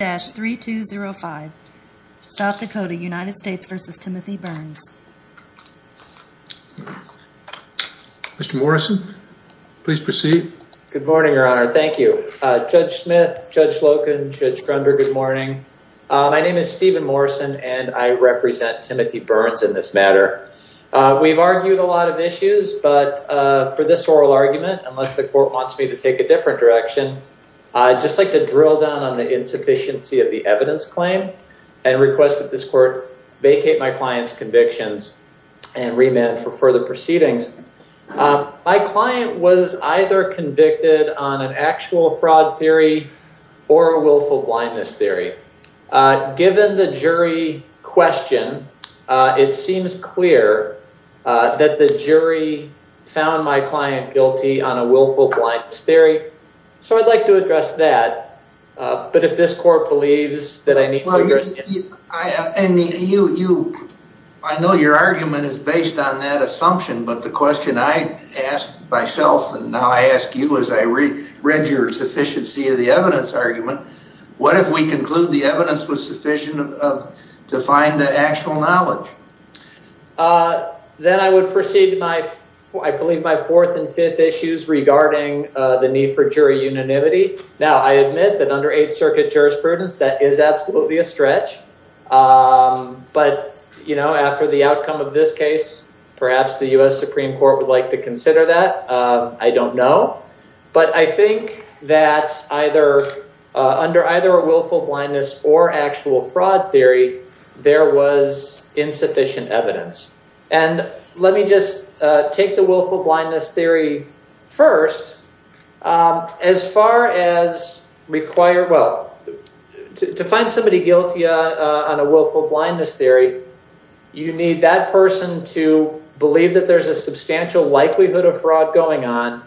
Good morning, your honor. Thank you. Judge Smith, Judge Loken, Judge Grunder, good morning. My name is Steven Morrison, and I represent Timothy Burns in this matter. We've argued a lot of issues, but for this oral argument, unless the court wants me to take a different direction, I'd just like to drill down on the insufficiency of the evidence claim and request that this court vacate my client's convictions and remand for further proceedings. My client was either convicted on an actual fraud theory or a willful blindness theory. Given the jury question, it seems clear that the jury found my client guilty on a willful blindness theory, so I'd like to address that, but if this court believes that I need to address that. I know your argument is based on that assumption, but the question I ask myself and now I ask you as I read your sufficiency of the evidence argument, what if we conclude the evidence was sufficient to find the actual knowledge? Then I would proceed to my, I believe, my fourth and fifth issues regarding the need for jury unanimity. Now, I admit that under Eighth Circuit jurisprudence, that is absolutely a stretch, but you know, after the outcome of this case, perhaps the U.S. Supreme Court would like to consider that. I don't know, but I think that under either a willful blindness or actual fraud theory, there was insufficient evidence, and let me just take the willful blindness theory first. As far as require, well, to find somebody guilty on a willful blindness theory, you need that person to believe that there's a substantial likelihood of fraud going on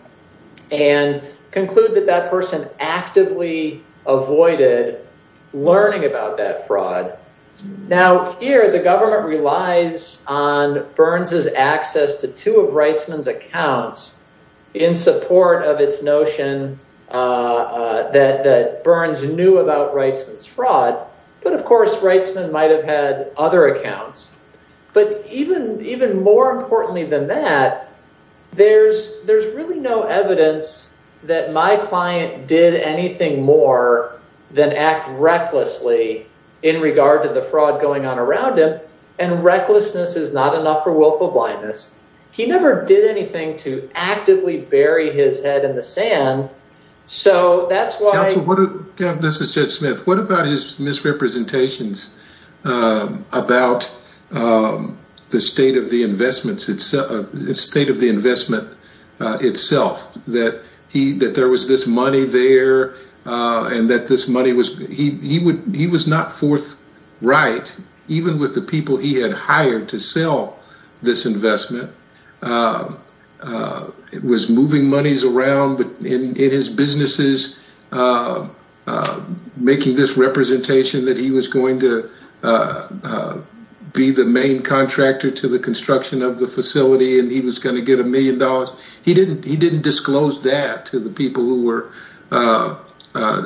and conclude that that person actively avoided learning about that fraud. Now, here, the government relies on Burns' access to two of Reitzman's accounts in support of its notion that Burns knew about Reitzman's fraud, but of course, Reitzman might have had other accounts. But even more importantly than that, there's really no evidence that my client did anything more than act recklessly in regard to the fraud going on around him, and recklessness is not enough for willful blindness. He never did anything to actively bury his head in the sand. So that's why... Counsel, this is Judge Smith. What about his misrepresentations about the state of the investments itself, the state of the investment itself, that there was this money there and that this money was, he was not forthright, even with the people he had hired to sell this investment, was moving monies around in his businesses, making this representation that he was going to be the main contractor to the construction of the facility and he was going to get a million dollars. He didn't disclose that to the people who were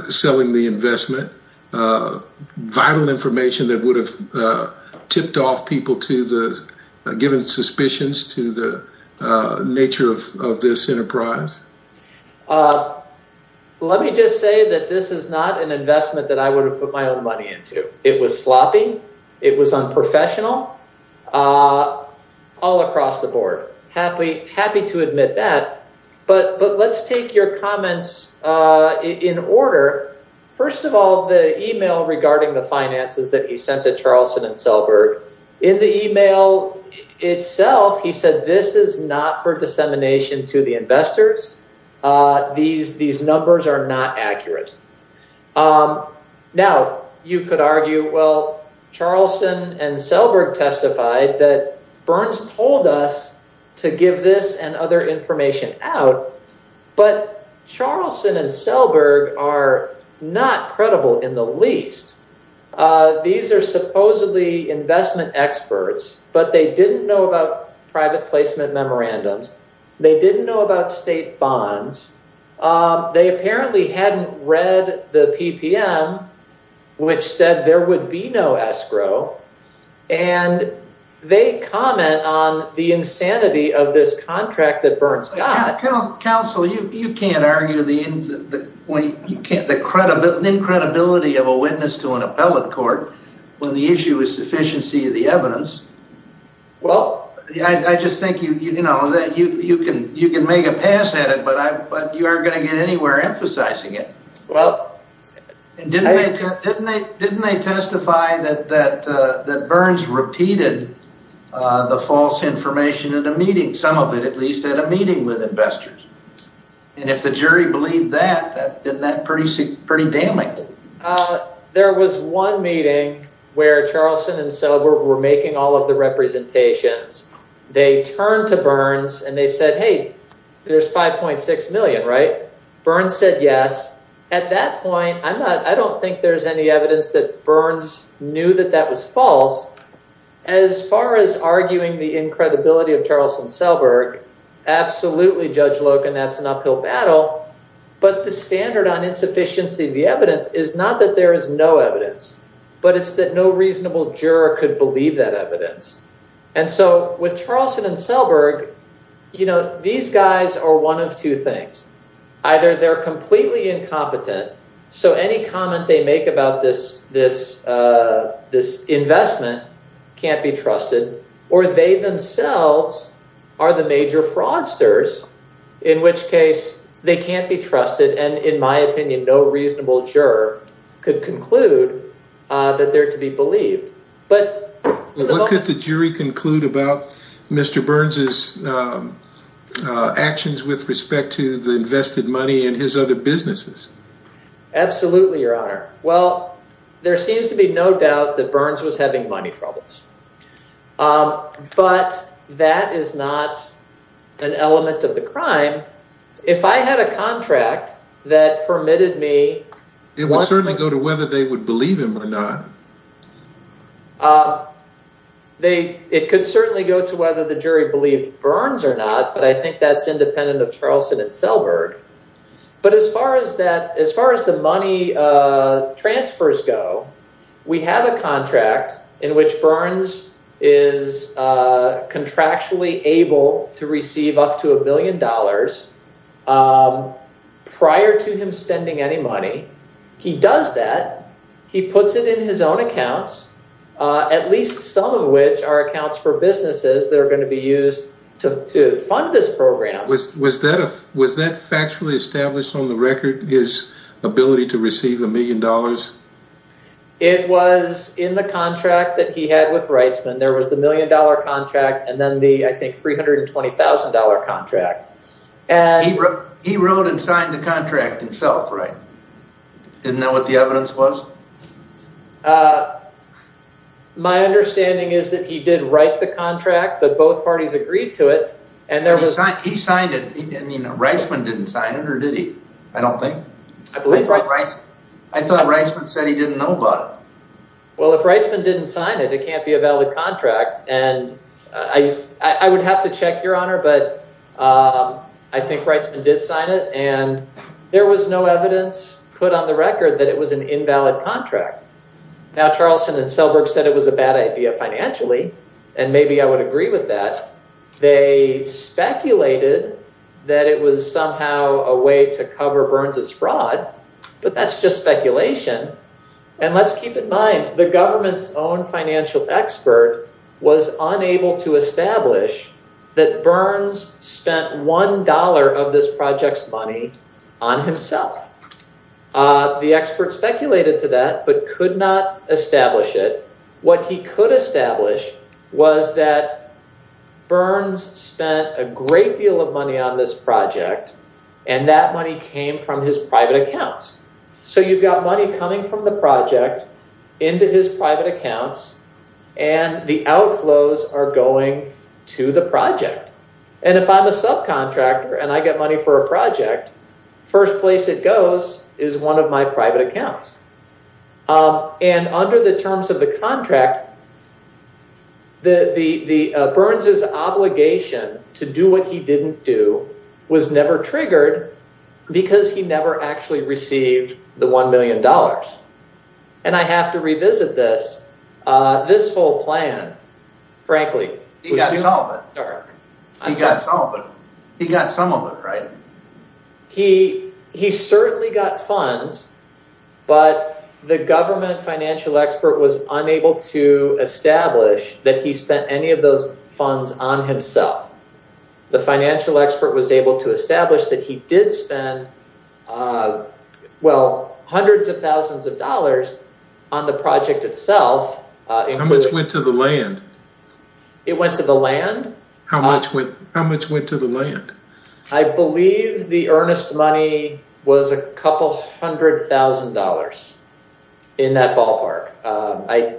selling the investment, vital information that would have tipped off people to the given suspicions to the nature of this enterprise. Let me just say that this is not an investment that I would have put my own money into. It was sloppy. It was unprofessional. All across the board, happy to admit that, but let's take your comments in order. First of all, the email regarding the finances that he sent to Charlson and Selberg, in the investors, these numbers are not accurate. Now, you could argue, well, Charlson and Selberg testified that Burns told us to give this and other information out, but Charlson and Selberg are not credible in the least. These are supposedly investment experts, but they didn't know about private placement memorandums. They didn't know about state bonds. They apparently hadn't read the PPM, which said there would be no escrow, and they comment on the insanity of this contract that Burns got. Counsel, you can't argue the credibility of a witness to an appellate court when the issue is sufficiency of the evidence. Well, I just think you can make a pass at it, but you aren't going to get anywhere emphasizing it. Well, didn't they testify that Burns repeated the false information at a meeting, some of it at least, at a meeting with investors? And if the jury believed that, then that's pretty damning. There was one meeting where Charlson and Selberg were making all of the representations. They turned to Burns and they said, hey, there's 5.6 million, right? Burns said yes. At that point, I don't think there's any evidence that Burns knew that that was false. As far as arguing the incredibility of Charlson Selberg, absolutely, Judge Loken, that's an uphill battle. But the standard on insufficiency of the evidence is not that there is no evidence, but it's that no reasonable juror could believe that evidence. And so with Charlson and Selberg, these guys are one of two things. Either they're completely incompetent, so any comment they make about this investment can't be trusted, or they themselves are the major fraudsters, in which case they can't be trusted. And in my opinion, no reasonable juror could conclude that they're to be believed. But what could the jury conclude about Mr. Burns's actions with respect to the invested money and his other businesses? Absolutely, Your Honor. Well, there seems to be no doubt that Burns was having money troubles, but that is not an element of the crime. If I had a contract that permitted me... It would certainly go to whether they would believe him or not. It could certainly go to whether the jury believed Burns or not, but I think that's independent of Charlson and Selberg. But as far as the money transfers go, we have a contract in which Burns is contractually able to receive up to a billion dollars prior to him spending any money. He does that. He puts it in his own accounts, at least some of which are accounts for businesses that are going to be used to fund this program. Was that factually established on the record, his ability to receive a million dollars? It was in the contract that he had with Reitzman. There was the million dollar contract and then the, I think, three hundred and twenty thousand dollar contract. He wrote and signed the contract himself, right? Isn't that what the evidence was? My understanding is that he did write the contract, but both parties agreed to it. And there was he signed it. He didn't mean Reitzman didn't sign it or did he? I don't think. I believe Reitzman said he didn't know about it. Well, if Reitzman didn't sign it, it can't be a valid contract. And I would have to check, Your Honor, but I think Reitzman did sign it. And there was no evidence put on the record that it was an invalid contract. Now, Charlson and Selberg said it was a bad idea financially. And maybe I would agree with that. They speculated that it was somehow a way to cover Burns's fraud. But that's just speculation. And let's keep in mind, the government's own financial expert was unable to establish that Burns spent one dollar of this project's money on himself. The expert speculated to that, but could not establish it. What he could establish was that Burns spent a great deal of money on this project and that money came from his private accounts. So you've got money coming from the project into his private accounts and the outflows are going to the project. And if I'm a subcontractor and I get money for a project, first place it goes is one of my private accounts. And under the terms of the contract, Burns's obligation to do what he didn't do was never triggered because he never actually received the one million dollars. And I have to revisit this. This whole plan, frankly. He got some of it, right? He certainly got funds, but the government financial expert was unable to establish that he spent any of those funds on himself. The financial expert was able to establish that he did spend, well, hundreds of thousands of dollars on the project itself. How much went to the land? It went to the land. How much went to the land? I believe the earnest money was a couple hundred thousand dollars in that ballpark. I,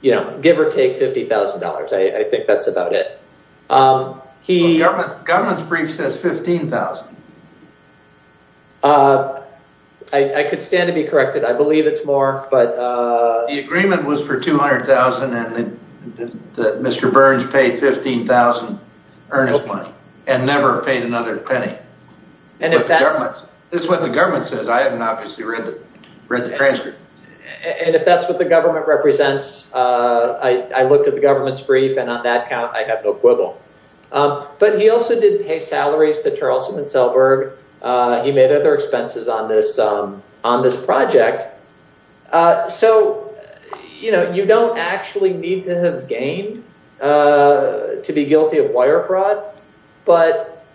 you know, give or take fifty thousand dollars. I think that's about it. The government's brief says fifteen thousand. I could stand to be corrected. I believe it's more, but the agreement was for two hundred thousand and Mr. Burns paid fifteen thousand earnest money. And never paid another penny. And if that's what the government says, I haven't obviously read the transcript. And if that's what the government represents, I looked at the government's brief and on that count, I have no quibble. But he also didn't pay salaries to Charlson and Selberg. He made other expenses on this on this project. So, you know, you don't actually need to have gained to be guilty of wire fraud. But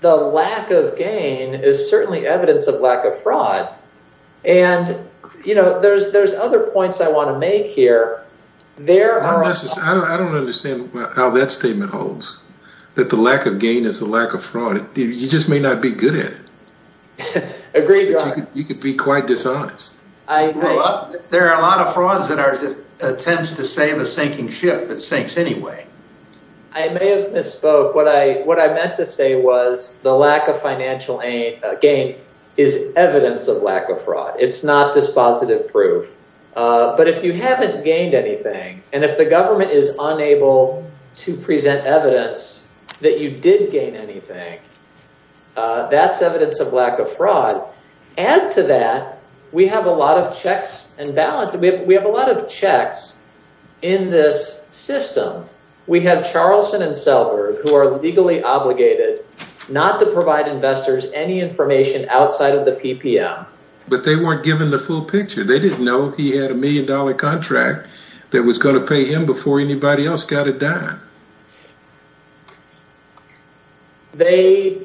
the lack of gain is certainly evidence of lack of fraud. And, you know, there's there's other points I want to make here. There are. I don't understand how that statement holds, that the lack of gain is the lack of fraud. You just may not be good at it. Agreed. You could be quite dishonest. I think there are a lot of frauds that are attempts to save a sinking ship that sinks anyway. I may have misspoke. What I what I meant to say was the lack of financial gain is evidence of lack of fraud. It's not dispositive proof. But if you haven't gained anything and if the government is unable to present evidence that you did gain anything, that's evidence of lack of fraud. And to that, we have a lot of checks and balance. We have a lot of checks in this system. We have Charlson and Selberg who are legally obligated not to provide investors any information outside of the PPM. But they weren't given the full picture. They didn't know he had a million dollar contract that was going to pay him before anybody else got it done. They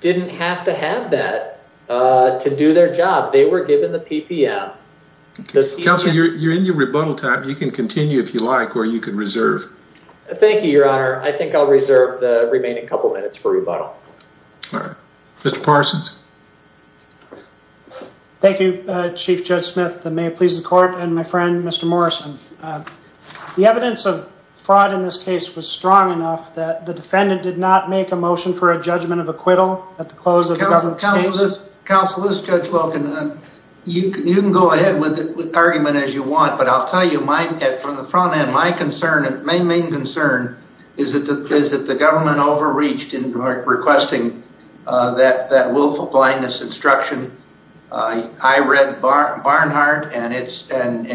didn't have to have that to do their job. They were given the PPM. Counselor, you're in your rebuttal time. You can continue if you like, or you can reserve. Thank you, Your Honor. I think I'll reserve the remaining couple of minutes for rebuttal. Mr. Parsons. Thank you, Chief Judge Smith. And may it please the court and my friend, Mr. Morrison, the evidence of fraud in this case was strong enough that the defendant did not make a motion for a judgment of acquittal at the close of the government's case. Counselor, this judge welcome. You can go ahead with the argument as you want, but I'll tell you from the front end, my main concern is that the government overreached in requesting that willful blindness instruction. I read Barnhart and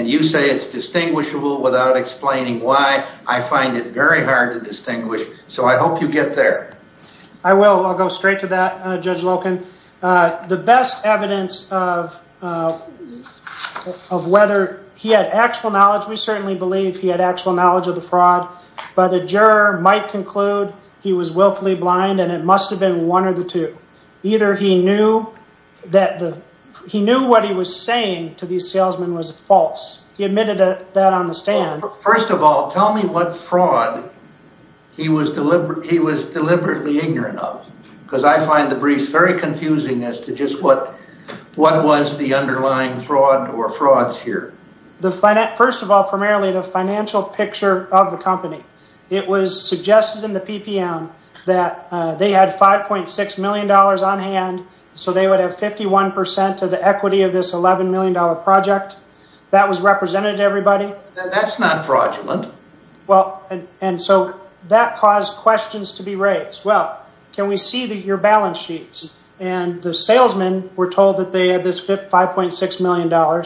you say it's distinguishable without explaining why. I find it very hard to distinguish. So I hope you get there. I will. I'll go straight to that, Judge Loken. The best evidence of whether he had actual knowledge, we certainly believe he had actual knowledge of the fraud, but the juror might conclude he was willfully blind and it must have been one or the two. Either he knew what he was saying to these salesmen was false. He admitted that on the stand. First of all, tell me what fraud he was deliberately ignorant of. Because I find the briefs very confusing as to just what was the underlying fraud or frauds here. First of all, primarily the financial picture of the company. It was suggested in the PPM that they had $5.6 million on hand, so they would have 51% of the equity of this $11 million project that was represented to everybody. That's not fraudulent. Well, and so that caused questions to be raised. Well, can we see that your balance sheets and the salesmen were told that they had this $5.6 million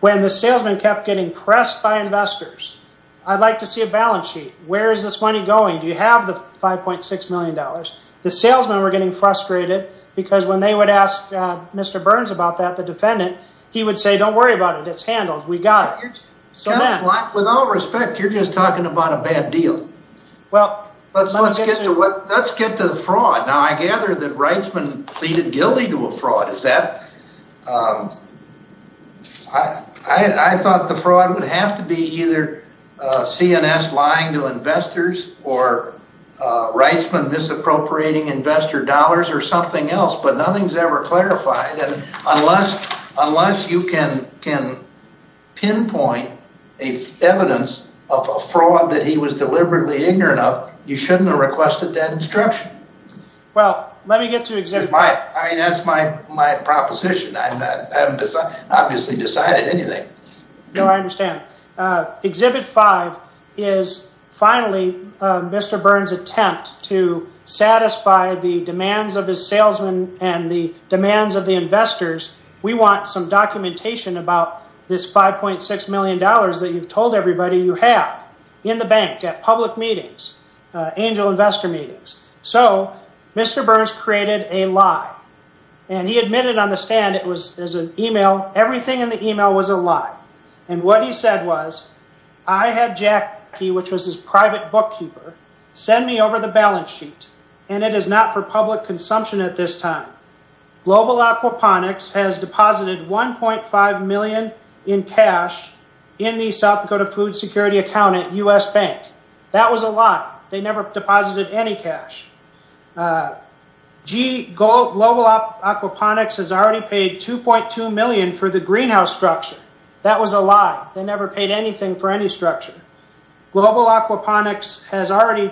when the salesman kept getting pressed by investors? I'd like to see a balance sheet. Where is this money going? Do you have the $5.6 million? The salesmen were getting frustrated because when they would ask Mr. Burns about that, the defendant, he would say, don't worry about it. It's handled. We got it. So with all respect, you're just talking about a bad deal. Well, let's get to the fraud. Now, I gather that Reitzman pleaded guilty to a fraud. I thought the fraud would have to be either CNS lying to investors or Reitzman misappropriating investor dollars or something else. But nothing's ever clarified. Unless you can pinpoint a evidence of a fraud that he was deliberately ignorant of, you shouldn't have requested that instruction. Well, let me get to Exhibit 5. That's my proposition. I haven't obviously decided anything. No, I understand. Exhibit 5 is finally Mr. Burns, we want some documentation about this $5.6 million that you've told everybody you have in the bank at public meetings, angel investor meetings. So Mr. Burns created a lie and he admitted on the stand, everything in the email was a lie. And what he said was, I had Jack, which was his private bookkeeper, send me over the balance sheet, and it is not for public consumption at this time. Global Aquaponics has deposited $1.5 million in cash in the South Dakota food security account at U.S. Bank. That was a lie. They never deposited any cash. Global Aquaponics has already paid $2.2 million for the greenhouse structure. That was a lie. They never paid anything for any structure. Global Aquaponics has already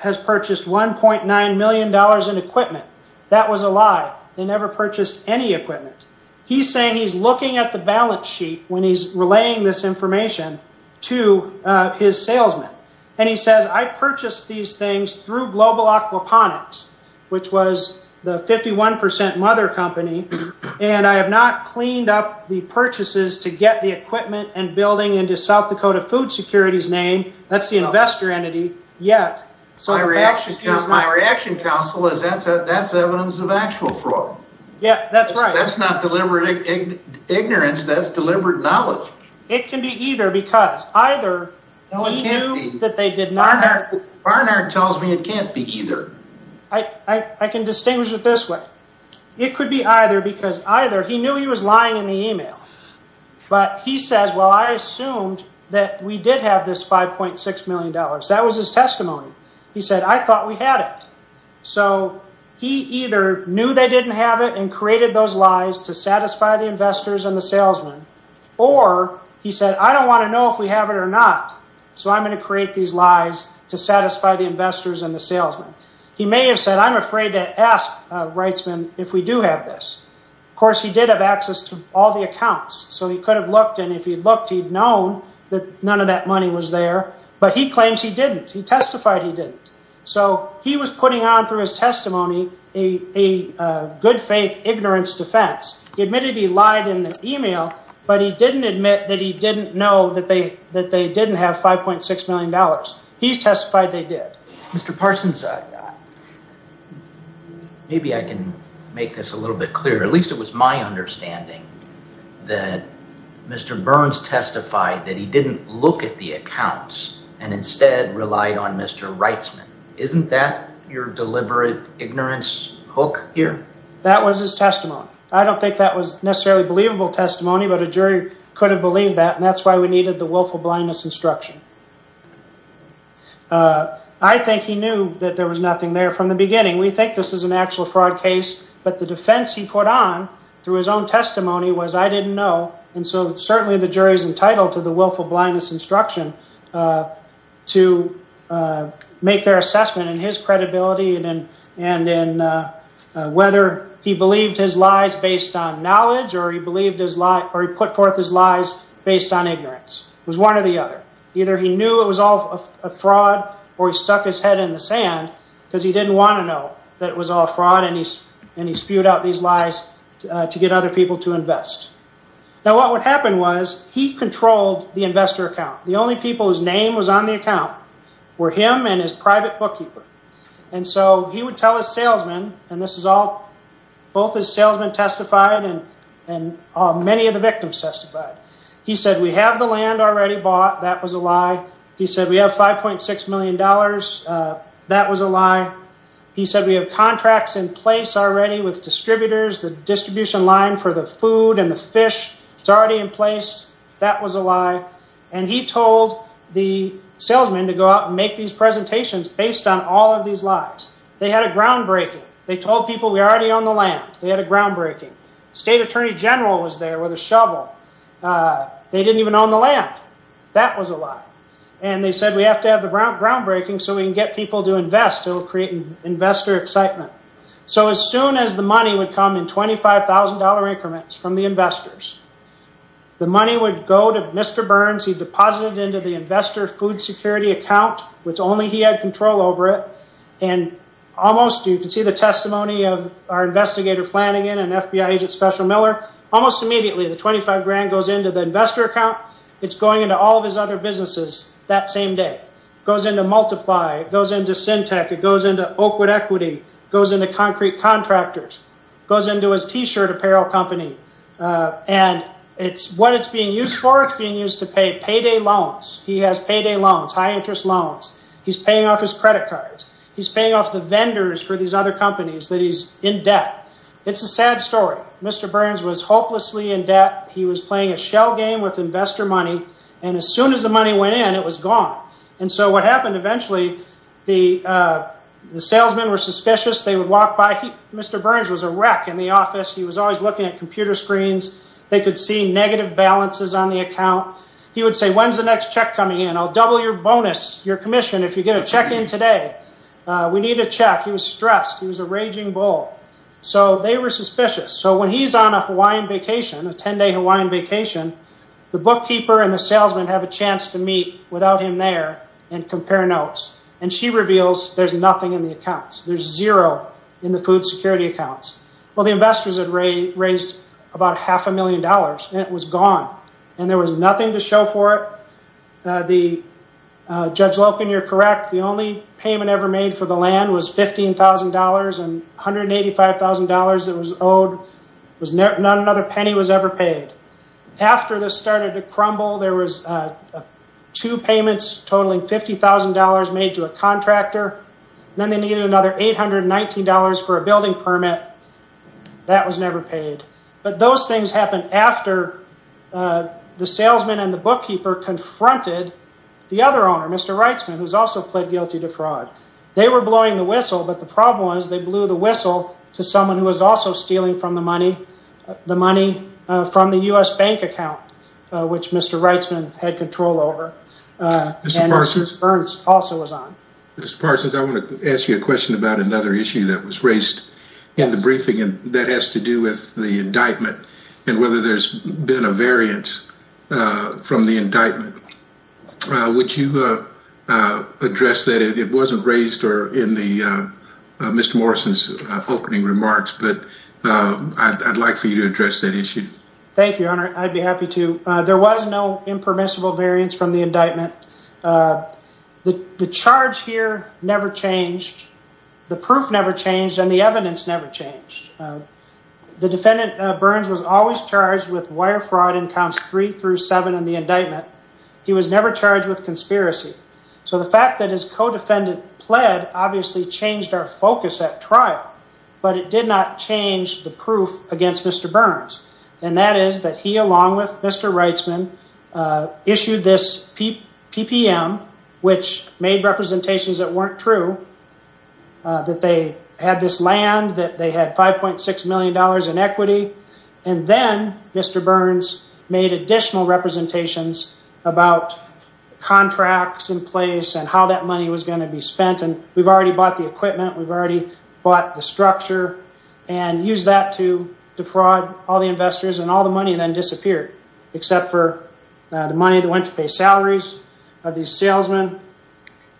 has purchased $1.9 million in equipment. That was a lie. They never purchased any equipment. He's saying he's looking at the balance sheet when he's relaying this information to his salesman. And he says, I purchased these things through Global Aquaponics, which was the 51 percent mother company, and I have not cleaned up the purchases to get the securities name. That's the investor entity yet. So my reaction counsel is that that's evidence of actual fraud. Yeah, that's right. That's not deliberate ignorance. That's deliberate knowledge. It can be either because either that they did not. Barnard tells me it can't be either. I can distinguish it this way. It could be either because either he knew he was lying in the email. But he says, well, I assumed that we did have this 5.6 million dollars. That was his testimony. He said, I thought we had it. So he either knew they didn't have it and created those lies to satisfy the investors and the salesman. Or he said, I don't want to know if we have it or not. So I'm going to create these lies to satisfy the investors and the salesman. He may have said, I'm afraid to ask a rightsman if we do have this. Of course, he did have access to all the accounts. So he could have looked. And if he looked, he'd known that none of that money was there. But he claims he didn't. He testified he didn't. So he was putting on through his testimony a good faith ignorance defense. He admitted he lied in the email, but he didn't admit that he didn't know that they that they didn't have 5.6 million dollars. He testified they did. Mr. Parsons, maybe I can make this a little bit clearer. At least it was my understanding that Mr. Burns testified that he didn't look at the accounts and instead relied on Mr. Rightsman. Isn't that your deliberate ignorance hook here? That was his testimony. I don't think that was necessarily believable testimony, but a jury could have believed that. And that's why we needed the willful blindness instruction. I think he knew that there was nothing there from the beginning. We think this is an actual fraud case, but the defense he put on through his own testimony was, I didn't know. And so certainly the jury is entitled to the willful blindness instruction to make their assessment in his credibility and in whether he believed his lies based on knowledge or he believed his lie or he put forth his lies based on ignorance. It was one or the other. Either he knew it was all a fraud or he stuck his head in the sand because he didn't want to know that it was all fraud and he spewed out these lies to get other people to invest. Now, what would happen was he controlled the investor account. The only people whose name was on the account were him and his private bookkeeper. And so he would tell his salesman, and this is all, both his salesman testified and many of the victims testified. He said, we have the land already bought. That was a lie. He said, we have $5.6 million. That was a lie. He said, we have contracts in place already with distributors. The distribution line for the food and the fish, it's already in place. That was a lie. And he told the salesman to go out and make these presentations based on all of these lies. They had a groundbreaking. They told people we already own the land. They had a groundbreaking. State Attorney General was there with a shovel. They didn't even own the land. That was a lie. And they said, we have to have the groundbreaking so we can get people to invest. It will create investor excitement. So as soon as the money would come in $25,000 increments from the investors, the money would go to Mr. Burns. He deposited into the investor food security account, which only he had control over it. Almost, you can see the testimony of our investigator, Flanagan and FBI agent Special Miller. Almost immediately, the $25,000 goes into the investor account. It's going into all of his other businesses that same day. It goes into Multiply, it goes into Syntec, it goes into Oakwood Equity, goes into Concrete Contractors, goes into his t-shirt apparel company. And what it's being used for, it's being used to pay payday loans. He has payday loans, high interest loans. He's paying off his credit cards. He's paying off the vendors for these other companies that he's in debt. It's a sad story. Mr. Burns was hopelessly in debt. He was playing a shell game with investor money. And as soon as the money went in, it was gone. And so what happened eventually, the salesmen were suspicious. They would walk by. Mr. Burns was a wreck in the office. He was always looking at computer screens. They could see negative balances on the account. He would say, when's the next check coming in? I'll double your bonus, your commission. If you get a check in today, we need a check. He was stressed. He was a raging bull. So they were suspicious. So when he's on a Hawaiian vacation, a 10-day Hawaiian vacation, the bookkeeper and the salesman have a chance to meet without him there and compare notes, and she reveals there's nothing in the accounts. There's zero in the food security accounts. Well, the investors had raised about half a million dollars and it was gone. And there was nothing to show for it. Judge Loken, you're correct. The only payment ever made for the land was $15,000 and $185,000 that was owed. Not another penny was ever paid. After this started to crumble, there was two payments totaling $50,000 made to a contractor, then they needed another $819 for a building permit. That was never paid. But those things happened after the salesman and the bookkeeper confronted the other owner, Mr. Reitzman, who's also pled guilty to fraud. They were blowing the whistle, but the problem was they blew the whistle to someone who was also stealing from the money, the money from the U.S. bank account, which Mr. Reitzman had control over. And Mr. Burns also was on. Mr. Parsons, I want to ask you a question about another issue that was raised in the briefing and that has to do with the indictment and whether there's been a variance from the indictment, which you addressed that it wasn't raised or in the Mr. Morrison's opening remarks, but I'd like for you to address that issue. Thank you, Your Honor. I'd be happy to. There was no impermissible variance from the indictment. The charge here never changed. The proof never changed and the evidence never changed. The defendant Burns was always charged with wire fraud in counts three through seven in the indictment. He was never charged with conspiracy. So the fact that his co-defendant pled obviously changed our focus at trial, but it did not change the proof against Mr. Burns. And that is that he, along with Mr. Reitzman, issued this PPM, which made representations that weren't true. That they had this land, that they had $5.6 million in equity. And then Mr. Burns made additional representations about contracts in place and how that money was going to be spent. And we've already bought the equipment. We've already bought the structure and used that to defraud all the investors and all the money then disappeared, except for the money that went to pay salaries of these salesmen,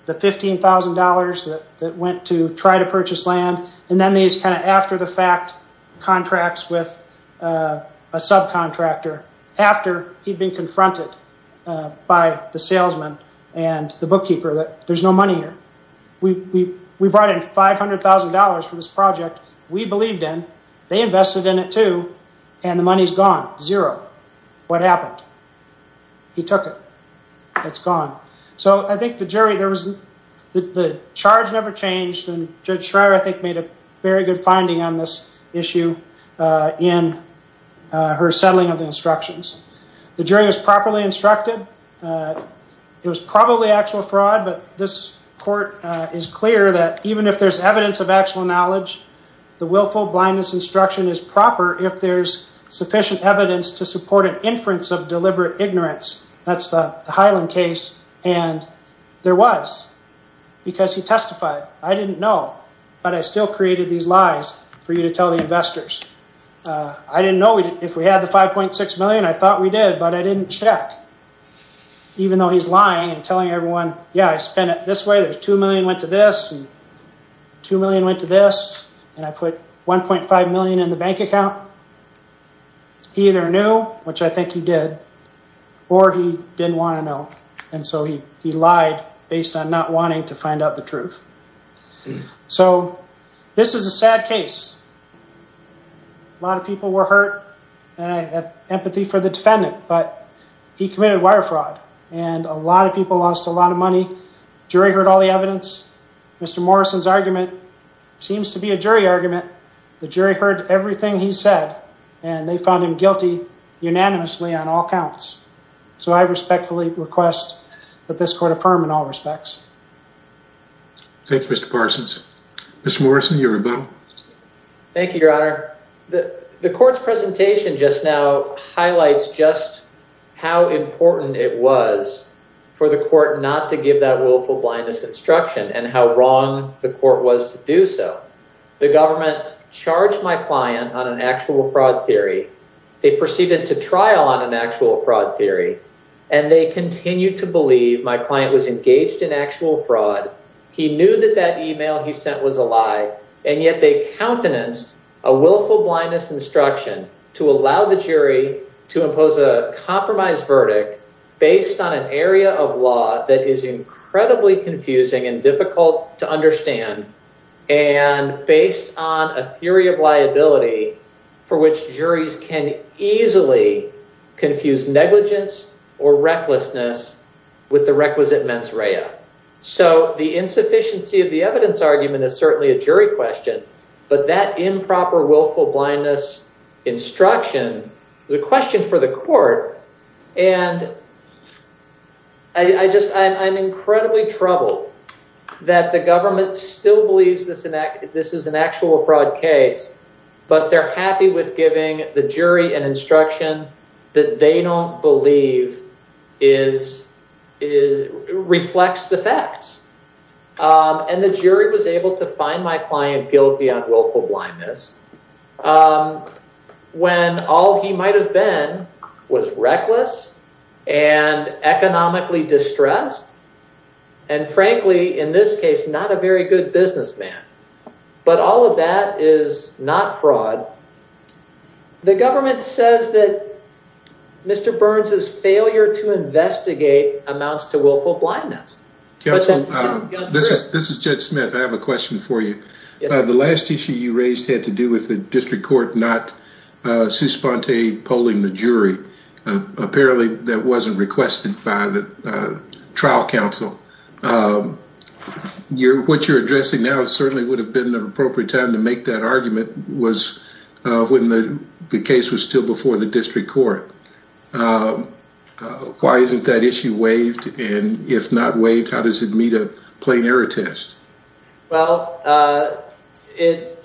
the $15,000 that went to try to purchase land. And then these kind of after the fact contracts with a subcontractor after he'd been confronted by the salesman and the bookkeeper that there's no money here. We brought in $500,000 for this project. We believed in, they invested in it too, and the money's gone. Zero. What happened? He took it. It's gone. So I think the jury, there was, the charge never changed. And Judge Schreier, I think made a very good finding on this issue in her settling of the instructions. The jury was properly instructed. It was probably actual fraud, but this court is clear that even if there's evidence of actual knowledge, the willful blindness instruction is proper. If there's sufficient evidence to support an inference of deliberate ignorance, that's the Highland case. And there was, because he testified, I didn't know, but I still created these lies for you to tell the investors. I didn't know if we had the 5.6 million. I thought we did, but I didn't check. Even though he's lying and telling everyone, yeah, I spent it this way. There's 2 million went to this, 2 million went to this, and I put 1.5 million in the bank account. He either knew, which I think he did, or he didn't want to know. And so he, he lied based on not wanting to find out the truth. So this is a sad case. A lot of people were hurt and I have empathy for the defendant, but he committed wire fraud and a lot of people lost a lot of money. Jury heard all the evidence. Mr. Morrison's argument seems to be a jury argument. The jury heard everything he said. And they found him guilty unanimously on all counts. So I respectfully request that this court affirm in all respects. Thank you, Mr. Parsons. Mr. Morrison, you're about. Thank you, your Honor. The court's presentation just now highlights just how important it was for the court not to give that willful blindness instruction and how wrong the court was to do so. The government charged my client on an actual fraud theory. They proceeded to trial on an actual fraud theory and they continue to believe my client was engaged in actual fraud. He knew that that email he sent was a lie and yet they countenanced a willful blindness instruction to allow the jury to impose a compromise verdict based on an area of law that is incredibly confusing and difficult to understand and based on a theory of liability for which juries can easily confuse negligence or recklessness with the requisite mens rea. So the insufficiency of the evidence argument is certainly a jury question, but that improper willful blindness instruction is a question for the court. And I'm incredibly troubled that the government still believes this is an actual fraud case, but they're happy with giving the jury an instruction that they don't believe reflects the facts. And the jury was able to find my client guilty on willful blindness when all he might've been was reckless and economically distressed and frankly, in this case, not a very good businessman, but all of that is not fraud. The government says that Mr. Burns's failure to investigate amounts to willful blindness. This is Jed Smith. I have a question for you. The last issue you raised had to do with the district court, not Suspante polling the jury. Apparently that wasn't requested by the trial counsel. What you're addressing now certainly would have been an appropriate time to make that argument was when the case was still before the district court. Why isn't that issue waived? And if not waived, how does it meet a plain error test? Well, it,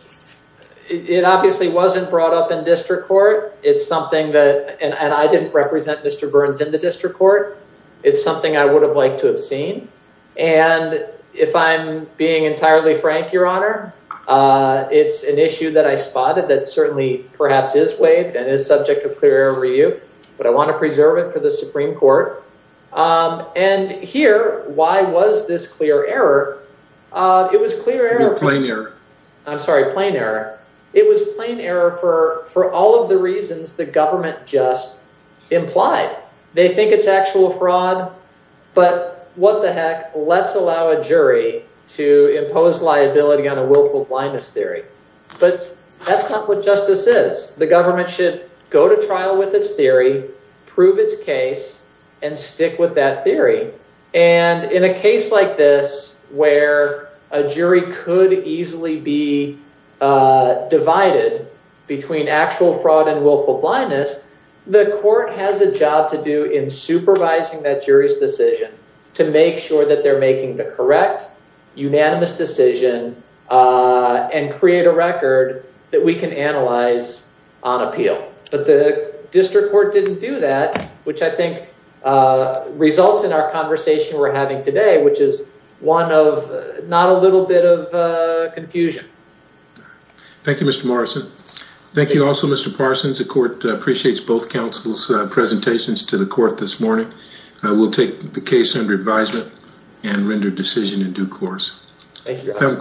it obviously wasn't brought up in district court. It's something that, and I didn't represent Mr. Burns in the district court. It's something I would have liked to have seen. And if I'm being entirely frank, your honor, it's an issue that I spotted that certainly perhaps is waived and is subject of clear review, but I want to preserve it for the Supreme court. And here, why was this clear error? It was clear error. I'm sorry, plain error. It was plain error for, for all of the reasons the government just implied. They think it's actual fraud, but what the heck, let's allow a jury to impose liability on a willful blindness theory. But that's not what justice is. The government should go to trial with its theory, prove its case and stick with that theory. And in a case like this, where a jury could easily be divided between actual fraud and willful blindness, the court has a job to do in supervising that jury's decision to make sure that they're making the correct unanimous decision and create a record that we can analyze on appeal, but the district court didn't do that, which I think results in our conversation we're having today, which is one of not a little bit of confusion. Thank you, Mr. Morrison. Thank you also, Mr. Parsons, the court appreciates both counsel's presentations to the court this morning. We'll take the case under advisement and render decision in due course. Thank you.